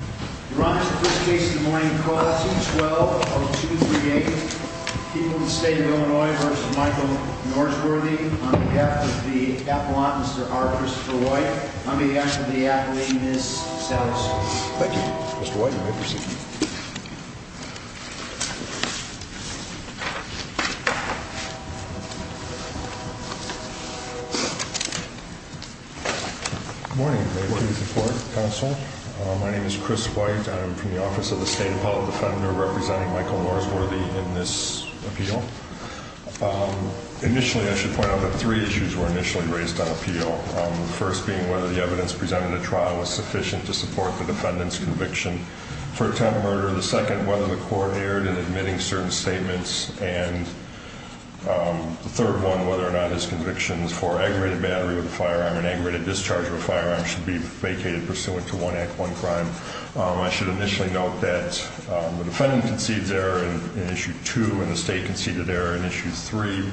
You're on to the first case of the morning. Call it 212-0238. People of the State of Illinois v. Michael Norsworthy On behalf of the Appellant, Mr. R. Christopher White On behalf of the Appellate, Ms. Satterstone Thank you, Mr. White. May I proceed? Good morning. May I please report, Counsel? My name is Chris White. I'm from the Office of the State Appellate Defender representing Michael Norsworthy in this appeal. Initially, I should point out that three issues were initially raised on appeal. The first being whether the evidence presented in the trial was sufficient to support the defendant's conviction for attempted murder. The second, whether the court erred in admitting certain statements. And the third one, whether or not his convictions for aggravated battery with a firearm and aggravated discharge of a firearm should be vacated pursuant to one act, one crime. I should initially note that the defendant conceded error in Issue 2 and the State conceded error in Issue 3,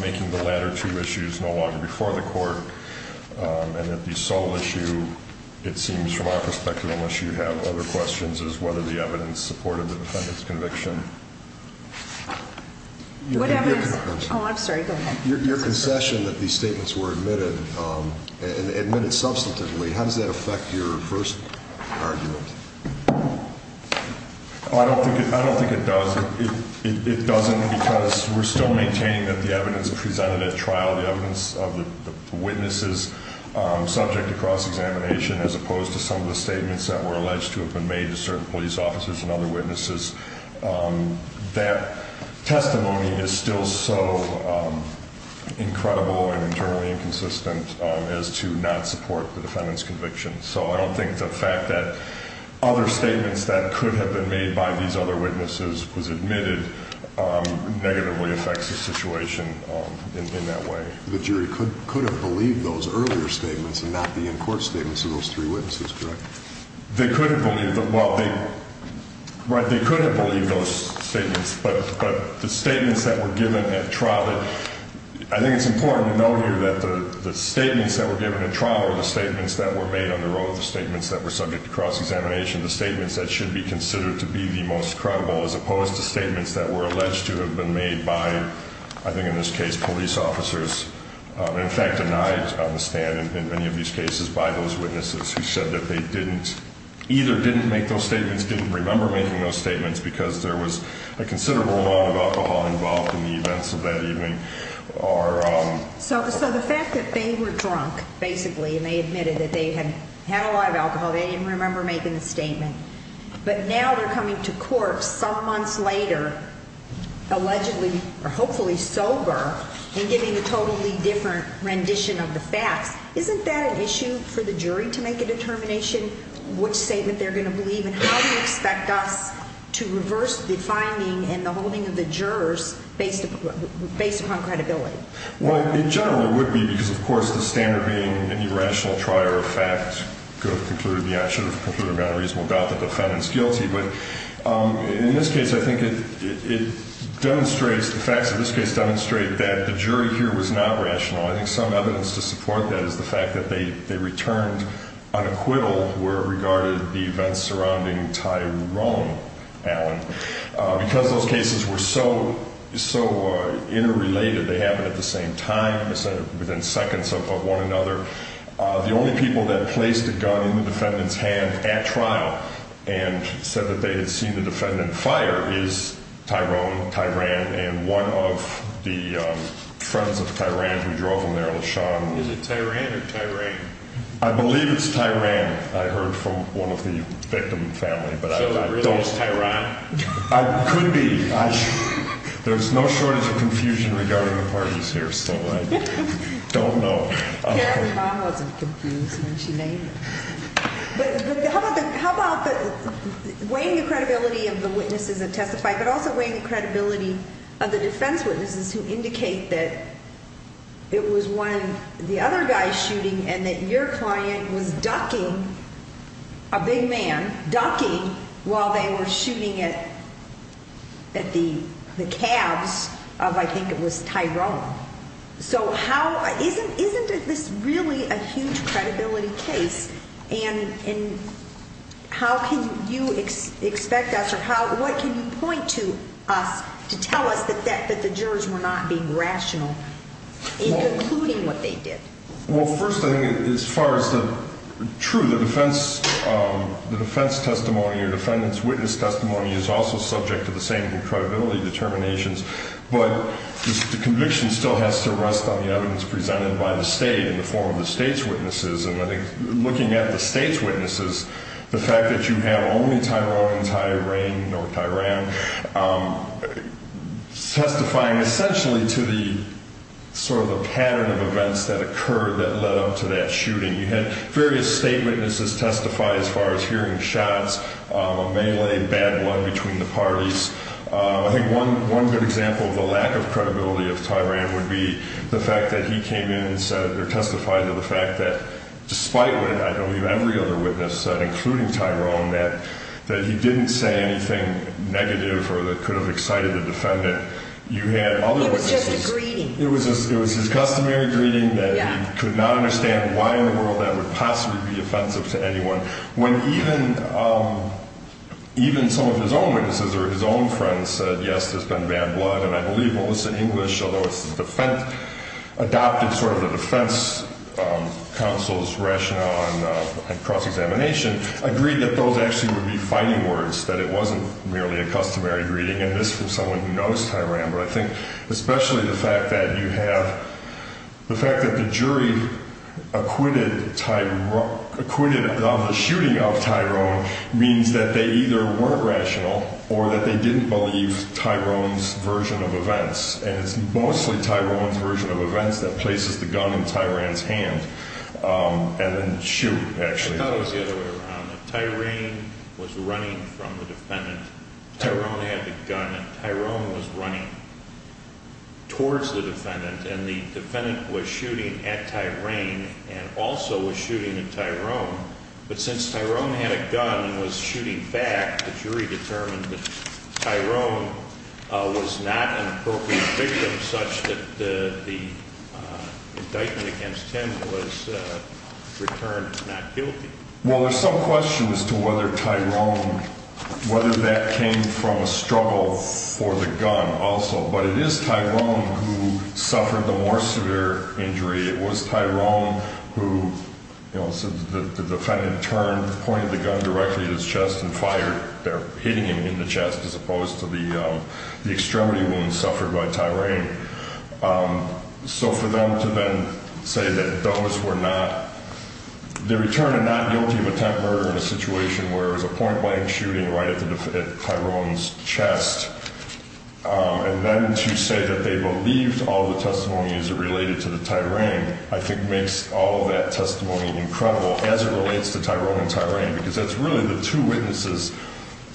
making the latter two issues no longer before the court. And that the sole issue, it seems from our perspective, unless you have other questions, is whether the evidence supported the defendant's conviction. Oh, I'm sorry. Go ahead. Your concession that these statements were admitted and admitted substantively, how does that affect your first argument? I don't think it does. It doesn't because we're still maintaining that the evidence presented at trial, the evidence of the witnesses subject to cross-examination as opposed to some of the statements that were alleged to have been made to certain police officers and other witnesses. That testimony is still so incredible and generally inconsistent as to not support the defendant's conviction. So I don't think the fact that other statements that could have been made by these other witnesses was admitted negatively affects the situation in that way. The jury could have believed those earlier statements and not the in-court statements of those three witnesses, correct? They could have believed those statements, but the statements that were given at trial, I think it's important to know here that the statements that were given at trial are the statements that were made on the road, the statements that were subject to cross-examination, the statements that should be considered to be the most credible as opposed to statements that were alleged to have been made by, I think in this case, police officers. In fact, denied on the stand in many of these cases by those witnesses who said that they either didn't make those statements, didn't remember making those statements because there was a considerable amount of alcohol involved in the events of that evening. So the fact that they were drunk, basically, and they admitted that they had had a lot of alcohol, they didn't remember making the statement. But now they're coming to court some months later, allegedly or hopefully sober, and giving a totally different rendition of the facts. Isn't that an issue for the jury to make a determination which statement they're going to believe, and how do you expect us to reverse the finding and the holding of the jurors based upon credibility? Well, it generally would be because, of course, the standard being any rational trier of fact could have concluded, yeah, should have concluded without a reasonable doubt that the defendant's guilty. But in this case, I think it demonstrates, the facts of this case demonstrate that the jury here was not rational. I think some evidence to support that is the fact that they returned an acquittal where it regarded the events surrounding Tyrone Allen. Because those cases were so interrelated, they happened at the same time, within seconds of one another. The only people that placed a gun in the defendant's hand at trial and said that they had seen the defendant fire is Tyrone, Tyran, and one of the friends of Tyran who drove him there, Lashon. Is it Tyran or Tyran? I believe it's Tyran. I heard from one of the victim family. So it really is Tyran? Could be. There's no shortage of confusion regarding the parties here, so I don't know. Apparently, mom wasn't confused when she named him. But how about weighing the credibility of the witnesses that testified, but also weighing the credibility of the defense witnesses who indicate that it was one of the other guys shooting and that your client was ducking, a big man, ducking while they were shooting at the calves of, I think it was Tyrone. So isn't this really a huge credibility case? And how can you expect us, or what can you point to us to tell us that the jurors were not being rational in concluding what they did? Well, first, I think as far as the truth, the defense testimony or defendant's witness testimony is also subject to the same credibility determinations. But the conviction still has to rest on the evidence presented by the state in the form of the state's witnesses. And looking at the state's witnesses, the fact that you have only Tyrone, Tyrain, nor Tyran, testifying essentially to the sort of the pattern of events that occurred that led up to that shooting. You had various state witnesses testify as far as hearing shots, a melee, bad blood between the parties. I think one good example of the lack of credibility of Tyrain would be the fact that he came in and testified to the fact that despite what I know every other witness said, including Tyrone, that he didn't say anything negative or that could have excited the defendant. You had other witnesses. It was just a greeting. It was his customary greeting that he could not understand why in the world that would possibly be offensive to anyone. When even some of his own witnesses or his own friends said, yes, there's been bad blood. And I believe Melissa English, although it's the defense, adopted sort of the defense counsel's rationale on cross-examination, agreed that those actually would be fighting words, that it wasn't merely a customary greeting. And this was someone who knows Tyran, but I think especially the fact that you have the fact that the jury acquitted Tyrone, acquitted on the shooting of Tyrone, means that they either weren't rational or that they didn't believe Tyrone's version of events. And it's mostly Tyrone's version of events that places the gun in Tyran's hand and then shoot, actually. Tyran was running from the defendant. Tyrone had the gun and Tyrone was running towards the defendant and the defendant was shooting at Tyran and also was shooting at Tyrone. But since Tyrone had a gun and was shooting back, the jury determined that Tyrone was not an appropriate victim such that the indictment against him was returned not guilty. Well, there's some question as to whether Tyrone, whether that came from a struggle for the gun also. But it is Tyrone who suffered the more severe injury. It was Tyrone who, you know, since the defendant turned, pointed the gun directly at his chest and fired, they're hitting him in the chest as opposed to the extremity wound suffered by Tyran. So for them to then say that those were not, they return a not guilty of attempt murder in a situation where it was a point blank shooting right at Tyrone's chest. And then to say that they believed all the testimonies related to the Tyran, I think makes all of that testimony incredible as it relates to Tyrone and Tyran. Because that's really the two witnesses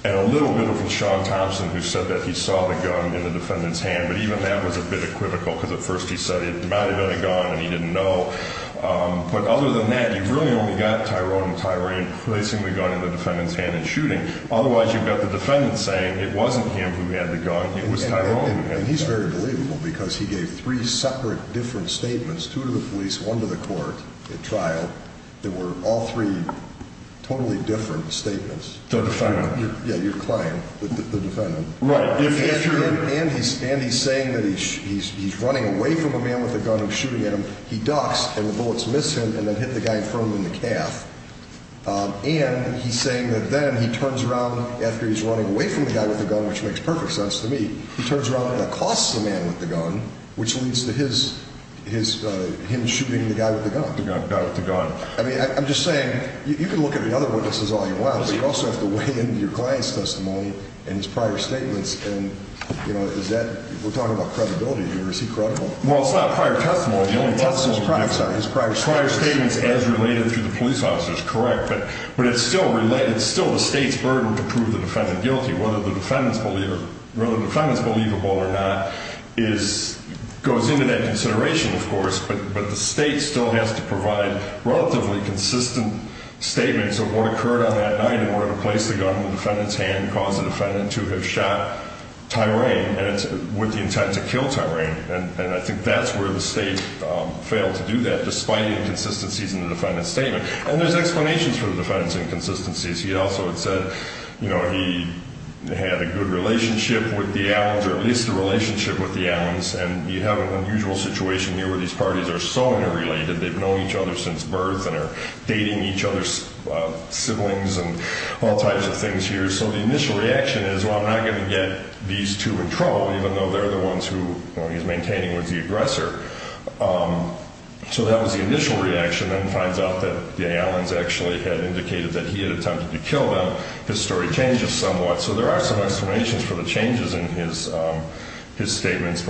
and a little bit from Sean Thompson who said that he saw the gun in the defendant's hand. But even that was a bit equivocal because at first he said it might have been a gun and he didn't know. But other than that, you've really only got Tyrone and Tyran placing the gun in the defendant's hand and shooting. Otherwise, you've got the defendant saying it wasn't him who had the gun. It was Tyrone who had the gun. And he's very believable because he gave three separate different statements, two to the police, one to the court at trial. They were all three totally different statements. The defendant. Yeah, your client, the defendant. Right. And he's saying that he's running away from a man with a gun and shooting at him. He ducks and the bullets miss him and then hit the guy in front of him in the calf. And he's saying that then he turns around after he's running away from the guy with the gun, which makes perfect sense to me. He turns around and accosts the man with the gun, which leads to his, his, him shooting the guy with the gun. The guy with the gun. I mean, I'm just saying, you can look at the other witnesses all you want, but you also have to weigh in your client's testimony and his prior statements. And, you know, is that, we're talking about credibility here. Is he credible? Well, it's not prior testimony. His prior statement is as related to the police officers. Correct. But, but it's still related. It's still the state's burden to prove the defendant guilty. Whether the defendant's believer, whether the defendant's believable or not is, goes into that consideration, of course. But, but the state still has to provide relatively consistent statements of what occurred on that night. And we're going to place the gun in the defendant's hand and cause the defendant to have shot Tyrain. And it's with the intent to kill Tyrain. And, and I think that's where the state failed to do that, despite the inconsistencies in the defendant's statement. And there's explanations for the defendant's inconsistencies. He also had said, you know, he had a good relationship with the Allens, or at least a relationship with the Allens. And you have an unusual situation here where these parties are so interrelated. They've known each other since birth and are dating each other's siblings and all types of things here. So the initial reaction is, well, I'm not going to get these two in trouble, even though they're the ones who, you know, he's maintaining with the aggressor. So that was the initial reaction. And it finds out that the Allens actually had indicated that he had attempted to kill them. His story changes somewhat. So there are some explanations for the changes in his, his statements.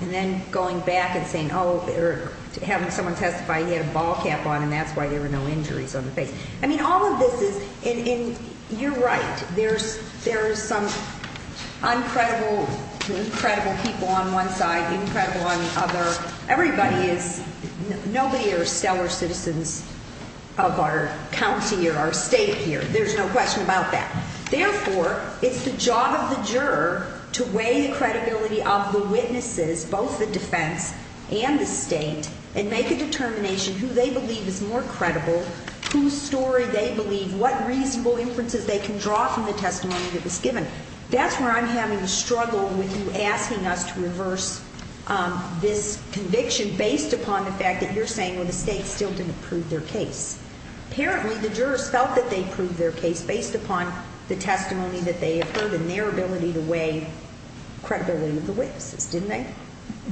And then going back and saying, oh, having someone testify, he had a ball cap on, and that's why there were no injuries on the face. I mean, all of this is, and you're right. There's, there's some uncredible, incredible people on one side, incredible on the other. Everybody is, nobody are stellar citizens of our county or our state here. There's no question about that. Therefore, it's the job of the juror to weigh the credibility of the witnesses, both the defense and the state, and make a determination who they believe is more credible, whose story they believe, what reasonable inferences they can draw from the testimony that was given. That's where I'm having a struggle with you asking us to reverse this conviction, based upon the fact that you're saying, well, the state still didn't prove their case. Apparently, the jurors felt that they proved their case based upon the testimony that they have heard and their ability to weigh credibility of the witnesses, didn't they?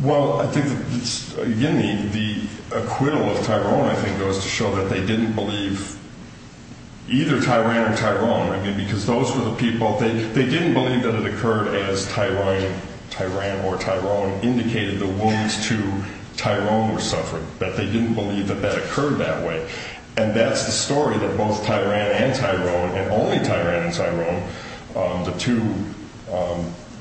Well, I think that, again, the, the acquittal of Tyrone, I think, goes to show that they didn't believe either Tyrann or Tyrone. I mean, because those were the people, they, they didn't believe that it occurred as Tyrone, Tyrann or Tyrone indicated the wounds to Tyrone were suffered. But they didn't believe that that occurred that way. And that's the story that both Tyrann and Tyrone, and only Tyrann and Tyrone, the two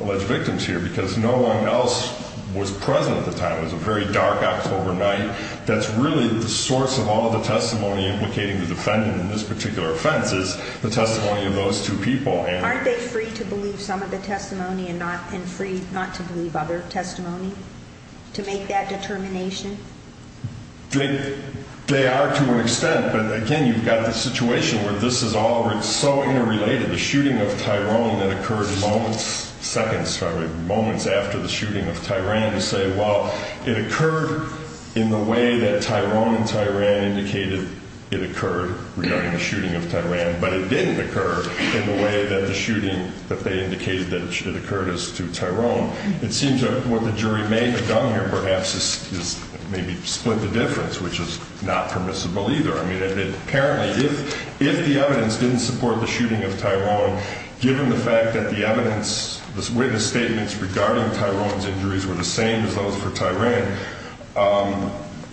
alleged victims here, because no one else was present at the time. It was a very dark October night. That's really the source of all the testimony implicating the defendant in this particular offense, is the testimony of those two people. Aren't they free to believe some of the testimony and not, and free not to believe other testimony, to make that determination? They, they are to an extent. But, again, you've got the situation where this is all so interrelated. The shooting of Tyrone that occurred moments, seconds, sorry, moments after the shooting of Tyrann, you say, well, it occurred in the way that Tyrone and Tyrann indicated it occurred, regarding the shooting of Tyrann. But it didn't occur in the way that the shooting that they indicated that it occurred as to Tyrone. It seems that what the jury may have done here perhaps is maybe split the difference, which is not permissible either. I mean, apparently, if the evidence didn't support the shooting of Tyrone, given the fact that the evidence, the witness statements regarding Tyrone's injuries were the same as those for Tyrann,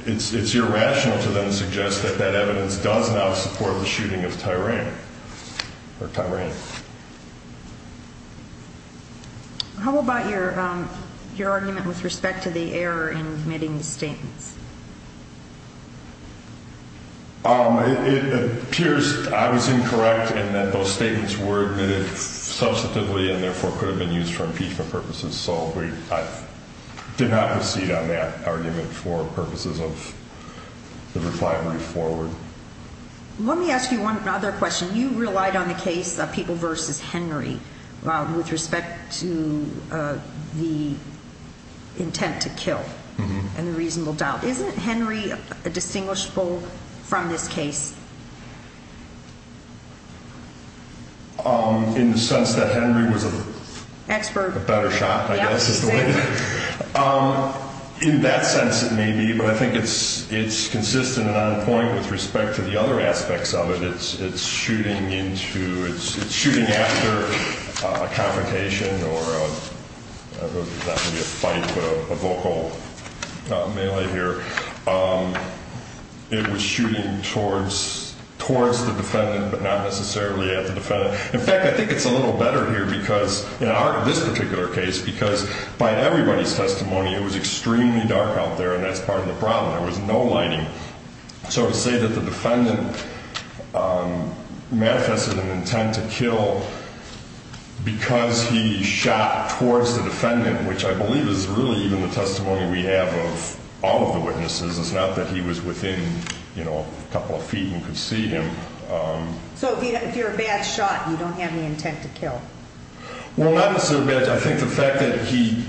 it's irrational to then suggest that that evidence does not support the shooting of Tyrann, or Tyrann. Thank you. How about your, your argument with respect to the error in admitting the statements? It appears I was incorrect in that those statements were admitted substantively and therefore could have been used for impeachment purposes. So I did not proceed on that argument for purposes of the refinery forward. Let me ask you one other question. You relied on the case of people versus Henry with respect to the intent to kill and the reasonable doubt. Isn't Henry a distinguishable from this case? In the sense that Henry was a better shot, I guess, is the way to put it. In that sense, it may be. But I think it's consistent and on point with respect to the other aspects of it. It's shooting into, it's shooting after a confrontation or a fight, a vocal melee here. It was shooting towards, towards the defendant, but not necessarily at the defendant. In fact, I think it's a little better here because, in this particular case, because by everybody's testimony, it was extremely dark out there. And that's part of the problem. There was no lighting. So to say that the defendant manifested an intent to kill because he shot towards the defendant, which I believe is really even the testimony we have of all of the witnesses. It's not that he was within, you know, a couple of feet and could see him. So if you're a bad shot, you don't have any intent to kill? Well, not necessarily bad. I think the fact that he,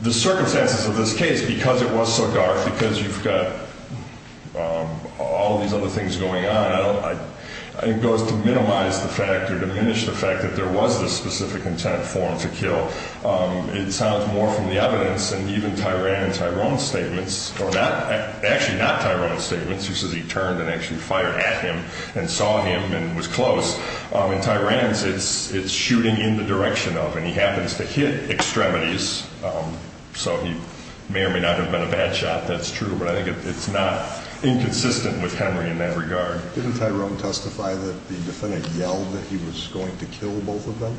the circumstances of this case, because it was so dark, because you've got all of these other things going on, it goes to minimize the fact or diminish the fact that there was this specific intent for him to kill. It sounds more from the evidence than even Tyran and Tyrone's statements, or actually not Tyrone's statements, who says he turned and actually fired at him and saw him and was close. In Tyran's, it's shooting in the direction of him. He happens to hit extremities, so he may or may not have been a bad shot. That's true. But I think it's not inconsistent with Henry in that regard. Didn't Tyrone testify that the defendant yelled that he was going to kill both of them?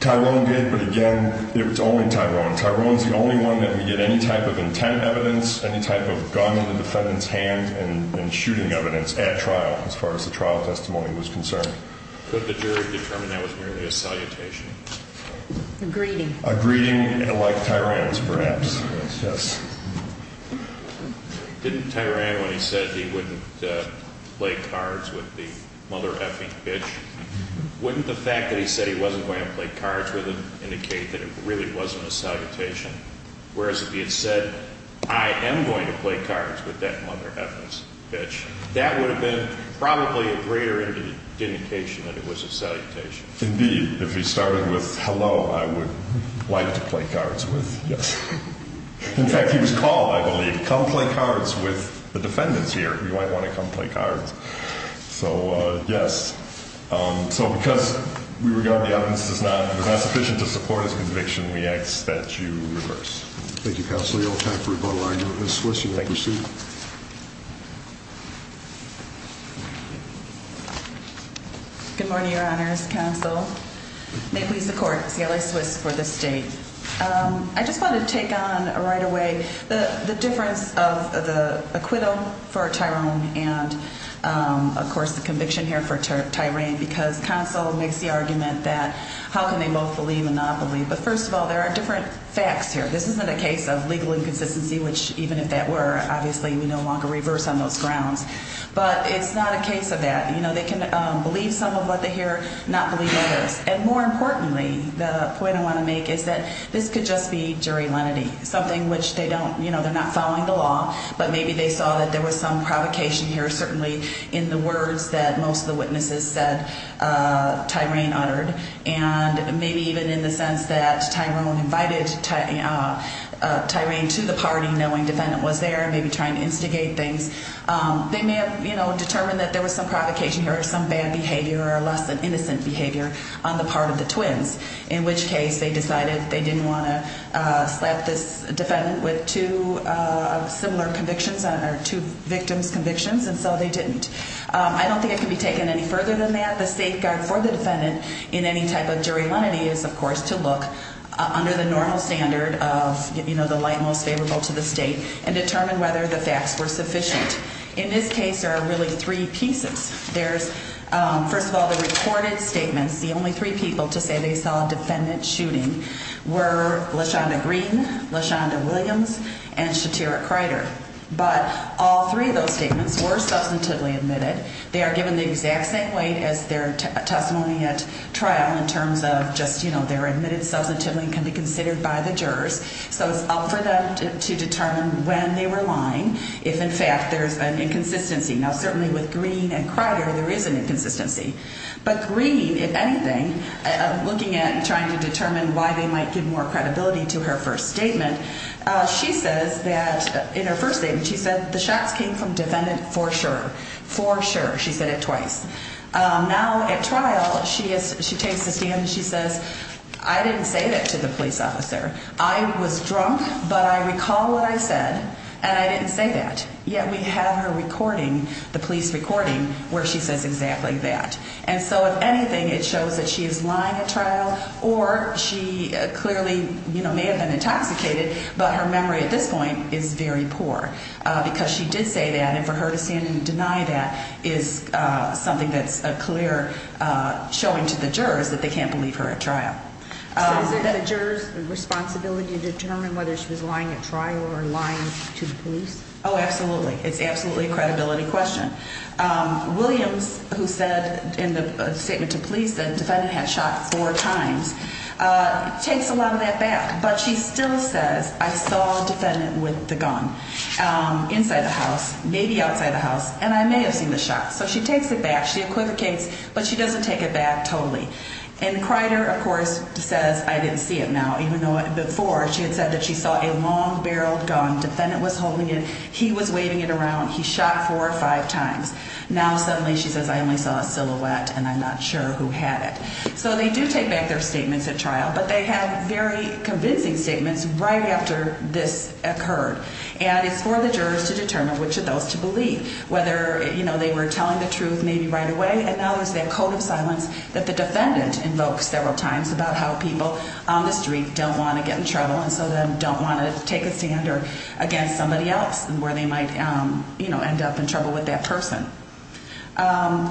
Tyrone did, but again, it was only Tyrone. Tyrone's the only one that we get any type of intent evidence, any type of gun in the defendant's hand and shooting evidence at trial, as far as the trial testimony was concerned. Could the jury determine that was merely a salutation? A greeting. A greeting like Tyrone's, perhaps. Didn't Tyrone, when he said he wouldn't play cards with the mother-effing bitch, wouldn't the fact that he said he wasn't going to play cards with him indicate that it really wasn't a salutation? Whereas if he had said, I am going to play cards with that mother-effing bitch, that would have been probably a greater indication that it was a salutation. Indeed. If he started with hello, I would like to play cards with. Yes. In fact, he was called, I believe, come play cards with the defendants here. You might want to come play cards. So, yes. So because we regard the evidence as not sufficient to support his conviction, we ask that you reverse. Thank you, counsel. Ms. Swiss, you may proceed. Good morning, Your Honors. Counsel. May it please the court. Cayla Swiss for the state. I just want to take on right away the difference of the acquittal for Tyrone and, of course, the conviction here for Tyrone, because counsel makes the argument that how can they both believe and not believe. But first of all, there are different facts here. This isn't a case of legal inconsistency, which even if that were, obviously we no longer reverse on those grounds. But it's not a case of that. You know, they can believe some of what they hear, not believe others. And more importantly, the point I want to make is that this could just be jury lenity, something which they don't, you know, they're not following the law, but maybe they saw that there was some provocation here certainly in the words that most of the witnesses said Tyrone uttered, and maybe even in the sense that Tyrone invited Tyrene to the party knowing the defendant was there, maybe trying to instigate things. They may have, you know, determined that there was some provocation here or some bad behavior or less than innocent behavior on the part of the twins, in which case they decided they didn't want to slap this defendant with two similar convictions, or two victim's convictions, and so they didn't. I don't think it can be taken any further than that. The safeguard for the defendant in any type of jury lenity is, of course, to look under the normal standard of, you know, the light most favorable to the state and determine whether the facts were sufficient. In this case, there are really three pieces. There's, first of all, the recorded statements. The only three people to say they saw a defendant shooting were LaShonda Green, LaShonda Williams, and Shatera Crider. But all three of those statements were substantively admitted. They are given the exact same weight as their testimony at trial in terms of just, you know, they're admitted substantively and can be considered by the jurors. So it's up for them to determine when they were lying, if, in fact, there's an inconsistency. Now, certainly with Green and Crider, there is an inconsistency. But Green, if anything, looking at and trying to determine why they might give more credibility to her first statement, she says that in her first statement she said the shots came from defendant for sure, for sure. She said it twice. Now, at trial, she takes a stand and she says, I didn't say that to the police officer. I was drunk, but I recall what I said, and I didn't say that. Yet we have her recording, the police recording, where she says exactly that. And so, if anything, it shows that she is lying at trial or she clearly, you know, may have been intoxicated, but her memory at this point is very poor because she did say that. And for her to stand and deny that is something that's a clear showing to the jurors that they can't believe her at trial. So is it the jurors' responsibility to determine whether she was lying at trial or lying to the police? Oh, absolutely. It's absolutely a credibility question. Williams, who said in the statement to police that defendant had shot four times, takes a lot of that back. But she still says, I saw defendant with the gun inside the house, maybe outside the house, and I may have seen the shot. So she takes it back. She equivocates, but she doesn't take it back totally. And Crider, of course, says, I didn't see it now, even though before she had said that she saw a long-barreled gun. Defendant was holding it. He was waving it around. He shot four or five times. Now suddenly she says, I only saw a silhouette, and I'm not sure who had it. So they do take back their statements at trial, but they have very convincing statements right after this occurred. And it's for the jurors to determine which of those to believe, whether, you know, they were telling the truth maybe right away. And now there's that code of silence that the defendant invokes several times about how people on the street don't want to get in trouble and so they don't want to take a stand against somebody else where they might, you know, end up in trouble with that person.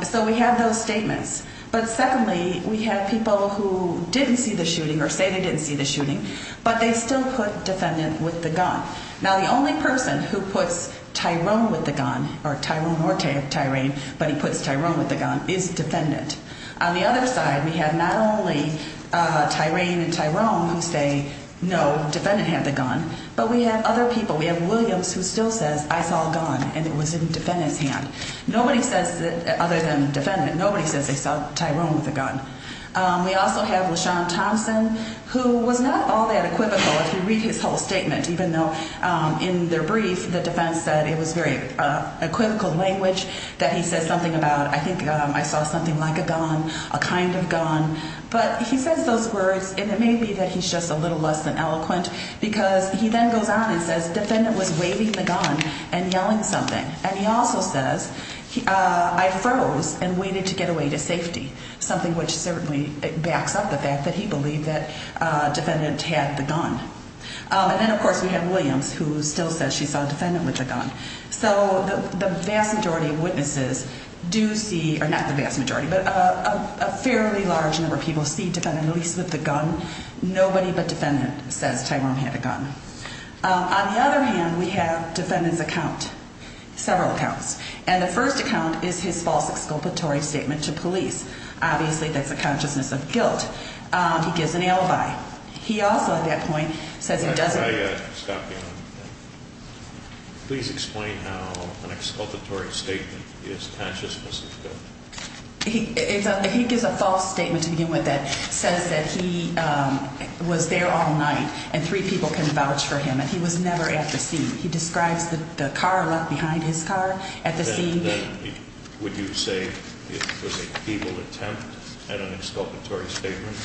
So we have those statements. But secondly, we have people who didn't see the shooting or say they didn't see the shooting, but they still put defendant with the gun. Now, the only person who puts Tyrone with the gun, or Tyrone or Tyraine, but he puts Tyrone with the gun, is defendant. On the other side, we have not only Tyraine and Tyrone who say, no, defendant had the gun, but we have other people. We have Williams who still says, I saw a gun, and it was in defendant's hand. Nobody says, other than defendant, nobody says they saw Tyrone with a gun. We also have LaShawn Thompson, who was not all that equivocal if you read his whole statement, even though in their brief the defendant said it was very equivocal language, that he said something about, I think I saw something like a gun, a kind of gun. But he says those words, and it may be that he's just a little less than eloquent because he then goes on and says, defendant was waving the gun and yelling something. And he also says, I froze and waited to get away to safety, something which certainly backs up the fact that he believed that defendant had the gun. And then, of course, we have Williams who still says she saw defendant with the gun. So the vast majority of witnesses do see, or not the vast majority, but a fairly large number of people see defendant at least with the gun. Nobody but defendant says Tyrone had a gun. On the other hand, we have defendant's account, several accounts. And the first account is his false exculpatory statement to police. Obviously, that's a consciousness of guilt. He gives an alibi. He also, at that point, says he doesn't. Could I stop you on that? Please explain how an exculpatory statement is consciousness of guilt. He gives a false statement to begin with that says that he was there all night and three people came and vouched for him. And he was never at the scene. He describes the car left behind his car at the scene. Would you say it was a feeble attempt at an exculpatory statement?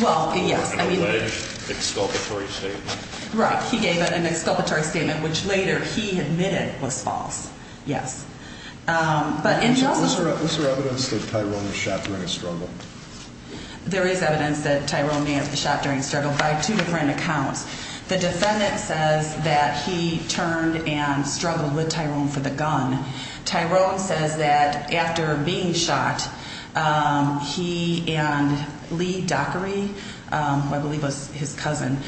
Well, yes. An alleged exculpatory statement. Right. He gave an exculpatory statement, which later he admitted was false. Yes. But he also. Was there evidence that Tyrone was shot during a struggle? There is evidence that Tyrone may have been shot during a struggle by two different accounts. The defendant says that he turned and struggled with Tyrone for the gun. Tyrone says that after being shot, he and Lee Dockery, who I believe was his cousin,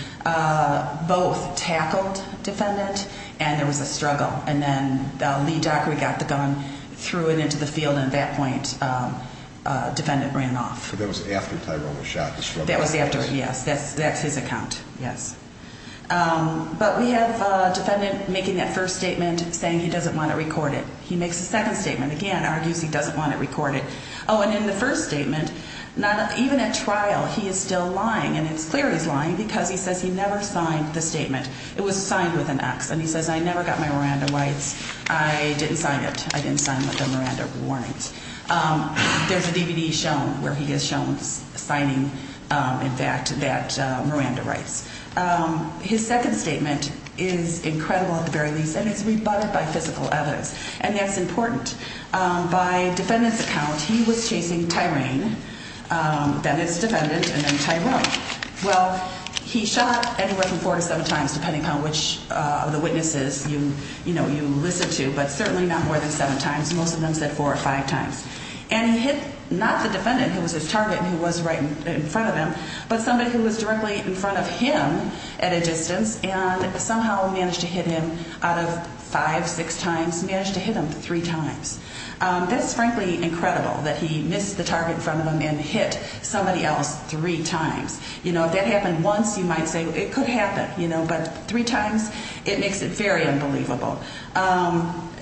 both tackled defendant. And there was a struggle. And then Lee Dockery got the gun, threw it into the field. And at that point, defendant ran off. So that was after Tyrone was shot. That was after. Yes. That's his account. Yes. But we have a defendant making that first statement saying he doesn't want to record it. He makes a second statement. Again, argues he doesn't want to record it. Oh, and in the first statement, even at trial, he is still lying. And it's clear he's lying because he says he never signed the statement. It was signed with an X. And he says, I never got my Miranda rights. I didn't sign it. I didn't sign the Miranda warnings. There's a DVD shown where he is shown signing, in fact, that Miranda rights. His second statement is incredible, at the very least, and it's rebutted by physical evidence. And that's important. By defendant's account, he was chasing Tyrone, then his defendant, and then Tyrone. Well, he shot anywhere from four to seven times, depending on which of the witnesses you listen to, but certainly not more than seven times. Most of them said four or five times. And he hit not the defendant, who was his target and who was right in front of him, but somebody who was directly in front of him at a distance, and somehow managed to hit him out of five, six times, managed to hit him three times. That's frankly incredible that he missed the target in front of him and hit somebody else three times. You know, if that happened once, you might say it could happen. But three times, it makes it very unbelievable.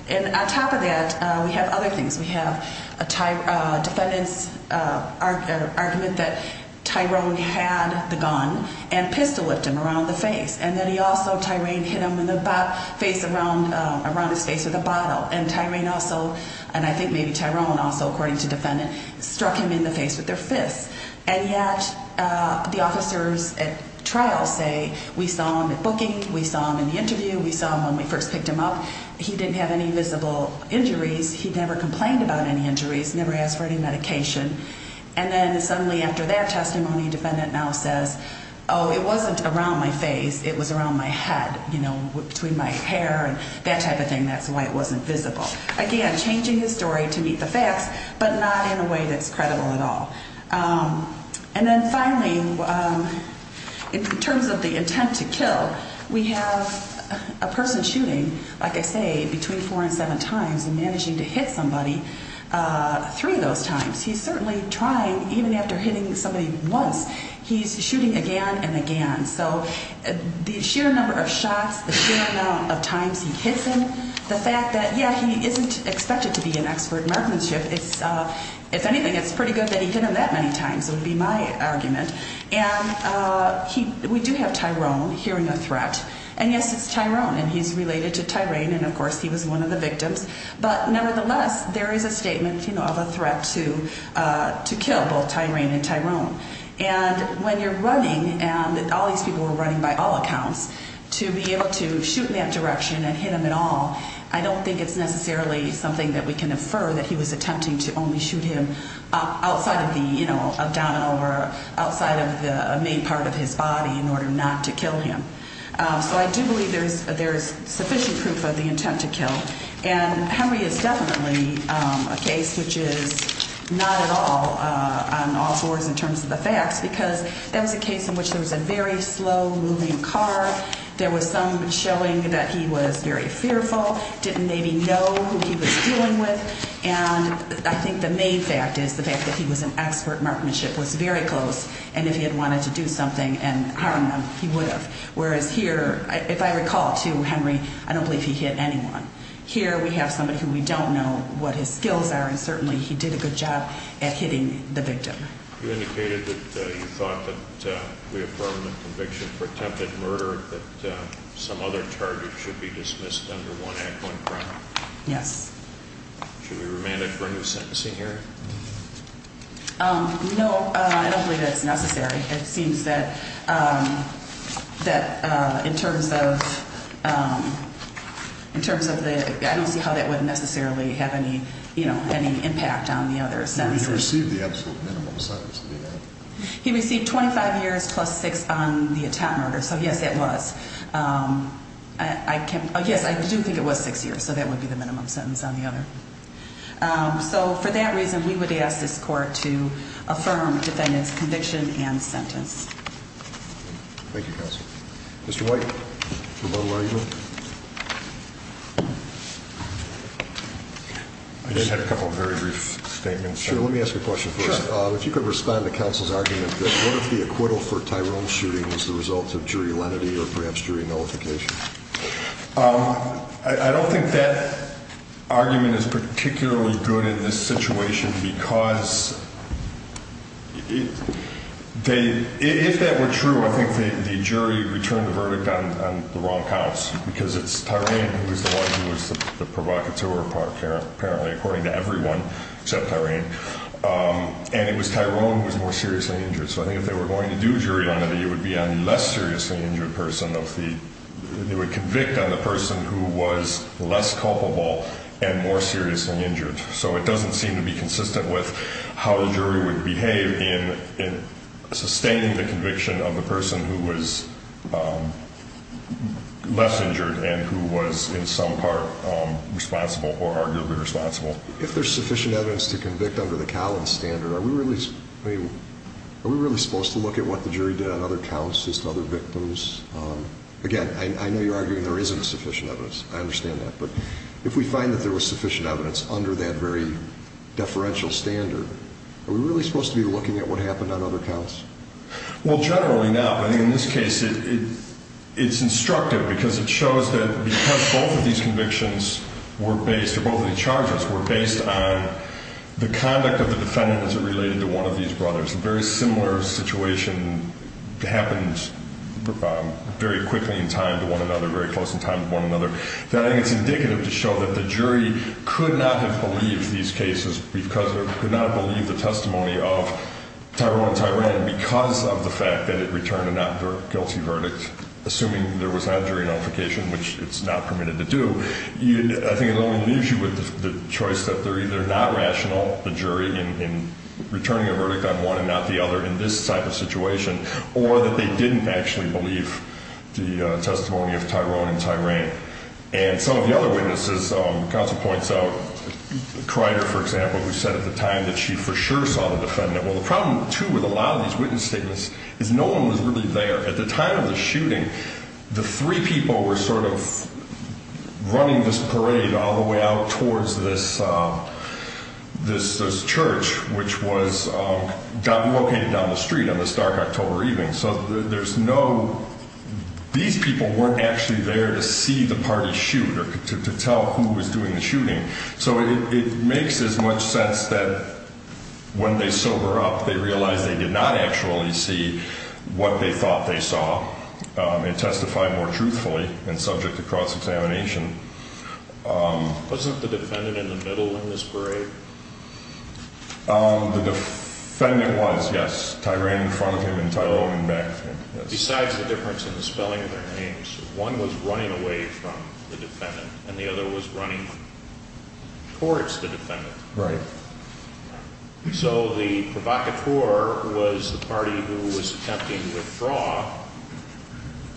And on top of that, we have other things. We have a defendant's argument that Tyrone had the gun and pistol-whipped him around the face. And then he also, Tyrone hit him in the face around his face with a bottle. And Tyrone also, and I think maybe Tyrone also, according to defendant, struck him in the face with their fists. And yet the officers at trial say we saw him at booking, we saw him in the interview, we saw him when we first picked him up. He didn't have any visible injuries. He never complained about any injuries, never asked for any medication. And then suddenly after that testimony, defendant now says, oh, it wasn't around my face. It was around my head, you know, between my hair and that type of thing. That's why it wasn't visible. Again, changing the story to meet the facts, but not in a way that's credible at all. And then finally, in terms of the intent to kill, we have a person shooting, like I say, between four and seven times and managing to hit somebody three of those times. He's certainly trying, even after hitting somebody once, he's shooting again and again. So the sheer number of shots, the sheer amount of times he hits him, the fact that, yeah, he isn't expected to be an expert marksmanship, if anything it's pretty good that he hit him that many times would be my argument. And we do have Tyrone hearing a threat. And yes, it's Tyrone, and he's related to Tyraine, and of course he was one of the victims. But nevertheless, there is a statement of a threat to kill both Tyraine and Tyrone. And when you're running, and all these people were running by all accounts, to be able to shoot in that direction and hit him at all, I don't think it's necessarily something that we can infer that he was attempting to only shoot him outside of the abdominal or outside of the main part of his body in order not to kill him. So I do believe there is sufficient proof of the intent to kill. And Henry is definitely a case which is not at all on all fours in terms of the facts, because that was a case in which there was a very slow-moving car. There was some showing that he was very fearful, didn't maybe know who he was dealing with. And I think the main fact is the fact that he was an expert marksmanship was very close. And if he had wanted to do something and harm them, he would have. Whereas here, if I recall to Henry, I don't believe he hit anyone. Here we have somebody who we don't know what his skills are, and certainly he did a good job at hitting the victim. You indicated that you thought that we have permanent conviction for attempted murder, but some other target should be dismissed under one act, one crime. Yes. Should we remand it for a new sentencing here? No, I don't believe that's necessary. It seems that in terms of the – I don't see how that would necessarily have any impact on the other sentences. He received the absolute minimum sentence. He received 25 years plus six on the attempted murder, so yes, it was. Yes, I do think it was six years, so that would be the minimum sentence on the other. So for that reason, we would ask this court to affirm defendant's conviction and sentence. Thank you, counsel. Mr. White, for a motto argument? I just had a couple of very brief statements. Sure, let me ask you a question first. If you could respond to counsel's argument that what if the acquittal for Tyrone's shooting was the result of jury lenity or perhaps jury nullification? I don't think that argument is particularly good in this situation because they – if that were true, I think the jury would return the verdict on the wrong counts because it's Tyrone who was the one who was the provocateur apparently, according to everyone except Tyrone, and it was Tyrone who was more seriously injured. So I think if they were going to do jury lenity, it would be on the less seriously injured person of the – they would convict on the person who was less culpable and more seriously injured. So it doesn't seem to be consistent with how the jury would behave in sustaining the conviction of the person who was less injured and who was in some part responsible or arguably responsible. If there's sufficient evidence to convict under the Callan standard, are we really – I mean, are we really supposed to look at what the jury did on other counts, just other victims? Again, I know you're arguing there isn't sufficient evidence. I understand that. But if we find that there was sufficient evidence under that very deferential standard, are we really supposed to be looking at what happened on other counts? Well, generally, no. I think in this case it's instructive because it shows that because both of these convictions were based – related to one of these brothers, a very similar situation happened very quickly in time to one another, very close in time to one another, that I think it's indicative to show that the jury could not have believed these cases because – or could not have believed the testimony of Tyrone and Tyrant because of the fact that it returned a not guilty verdict, assuming there was that jury notification, which it's not permitted to do. I think it only leaves you with the choice that they're either not rational, the jury, in returning a verdict on one and not the other in this type of situation, or that they didn't actually believe the testimony of Tyrone and Tyrant. And some of the other witnesses, counsel points out, Crider, for example, who said at the time that she for sure saw the defendant. Well, the problem, too, with a lot of these witness statements is no one was really there. At the time of the shooting, the three people were sort of running this parade all the way out towards this church, which was located down the street on this dark October evening. So there's no – these people weren't actually there to see the party shoot or to tell who was doing the shooting. So it makes as much sense that when they sober up, they realize they did not actually see what they thought they saw and testify more truthfully and subject to cross-examination. Wasn't the defendant in the middle in this parade? The defendant was, yes. Tyrone in front of him and Tyrone in back of him. Besides the difference in the spelling of their names, one was running away from the defendant and the other was running towards the defendant. Right. So the provocateur was the party who was attempting to withdraw,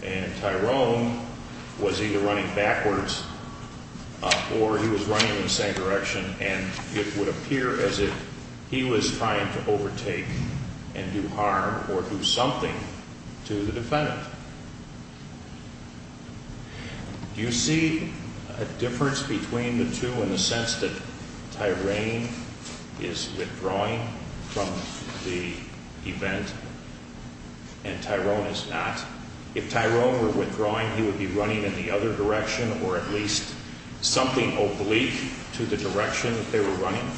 and Tyrone was either running backwards or he was running in the same direction, and it would appear as if he was trying to overtake and do harm or do something to the defendant. Do you see a difference between the two in the sense that Tyrone is withdrawing from the event and Tyrone is not? If Tyrone were withdrawing, he would be running in the other direction or at least something oblique to the direction that they were running?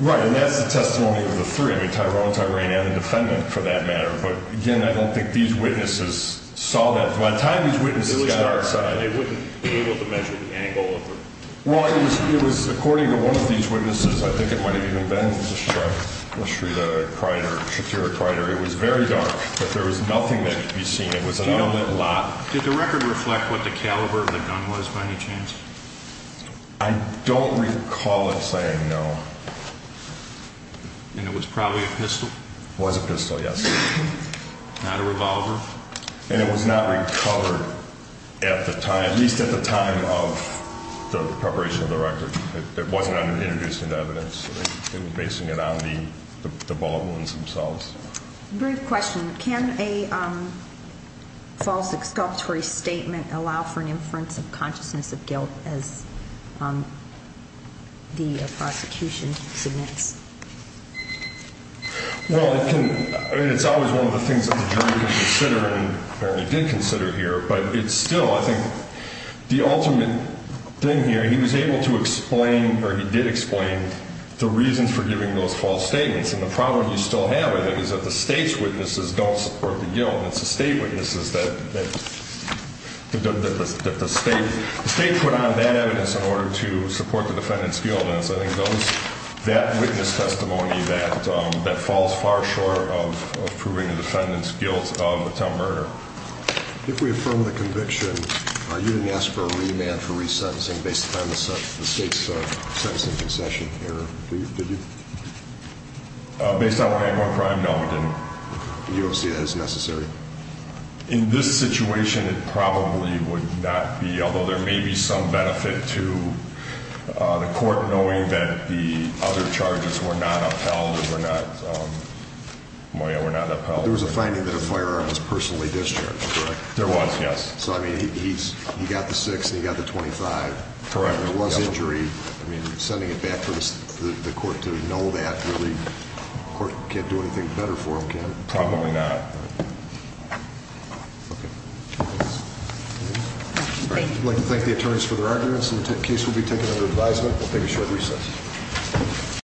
Right, and that's the testimony of the three, Tyrone, Tyraine, and the defendant for that matter. But again, I don't think these witnesses saw that. By the time these witnesses got outside, they wouldn't have been able to measure the angle of it. Well, it was according to one of these witnesses, I think it might have even been Shrita Kreider, Shatira Kreider, it was very dark, but there was nothing that could be seen. It was an open lot. Did the record reflect what the caliber of the gun was by any chance? I don't recall it saying no. And it was probably a pistol? It was a pistol, yes. Not a revolver? And it was not recovered at the time, at least at the time of the preparation of the record. It wasn't introduced into evidence. They were basing it on the bullet wounds themselves. Brief question. Can a false exculpatory statement allow for an inference of consciousness of guilt as the prosecution suggests? Well, it can. I mean, it's always one of the things that the jury can consider and apparently did consider here. But it's still, I think, the ultimate thing here, he was able to explain, or he did explain, the reasons for giving those false statements. And the problem you still have, I think, is that the state's witnesses don't support the guilt. It's the state witnesses that the state put on that evidence in order to support the defendant's guilt. And it's, I think, that witness testimony that falls far short of proving the defendant's guilt of attempted murder. If we affirm the conviction, you didn't ask for a remand for resentencing based on the state's sentencing concession error, did you? Based on what Angoran Crime noted. You don't see that as necessary? In this situation, it probably would not be, although there may be some benefit to the court knowing that the other charges were not upheld or were not, were not upheld. There was a finding that a firearm was personally discharged, correct? There was, yes. So, I mean, he got the 6 and he got the 25. Correct. There was injury. I mean, sending it back for the court to know that really, the court can't do anything better for him, can it? Probably not. Okay. I'd like to thank the attorneys for their arguments. The case will be taken under advisement. We'll take a short recess.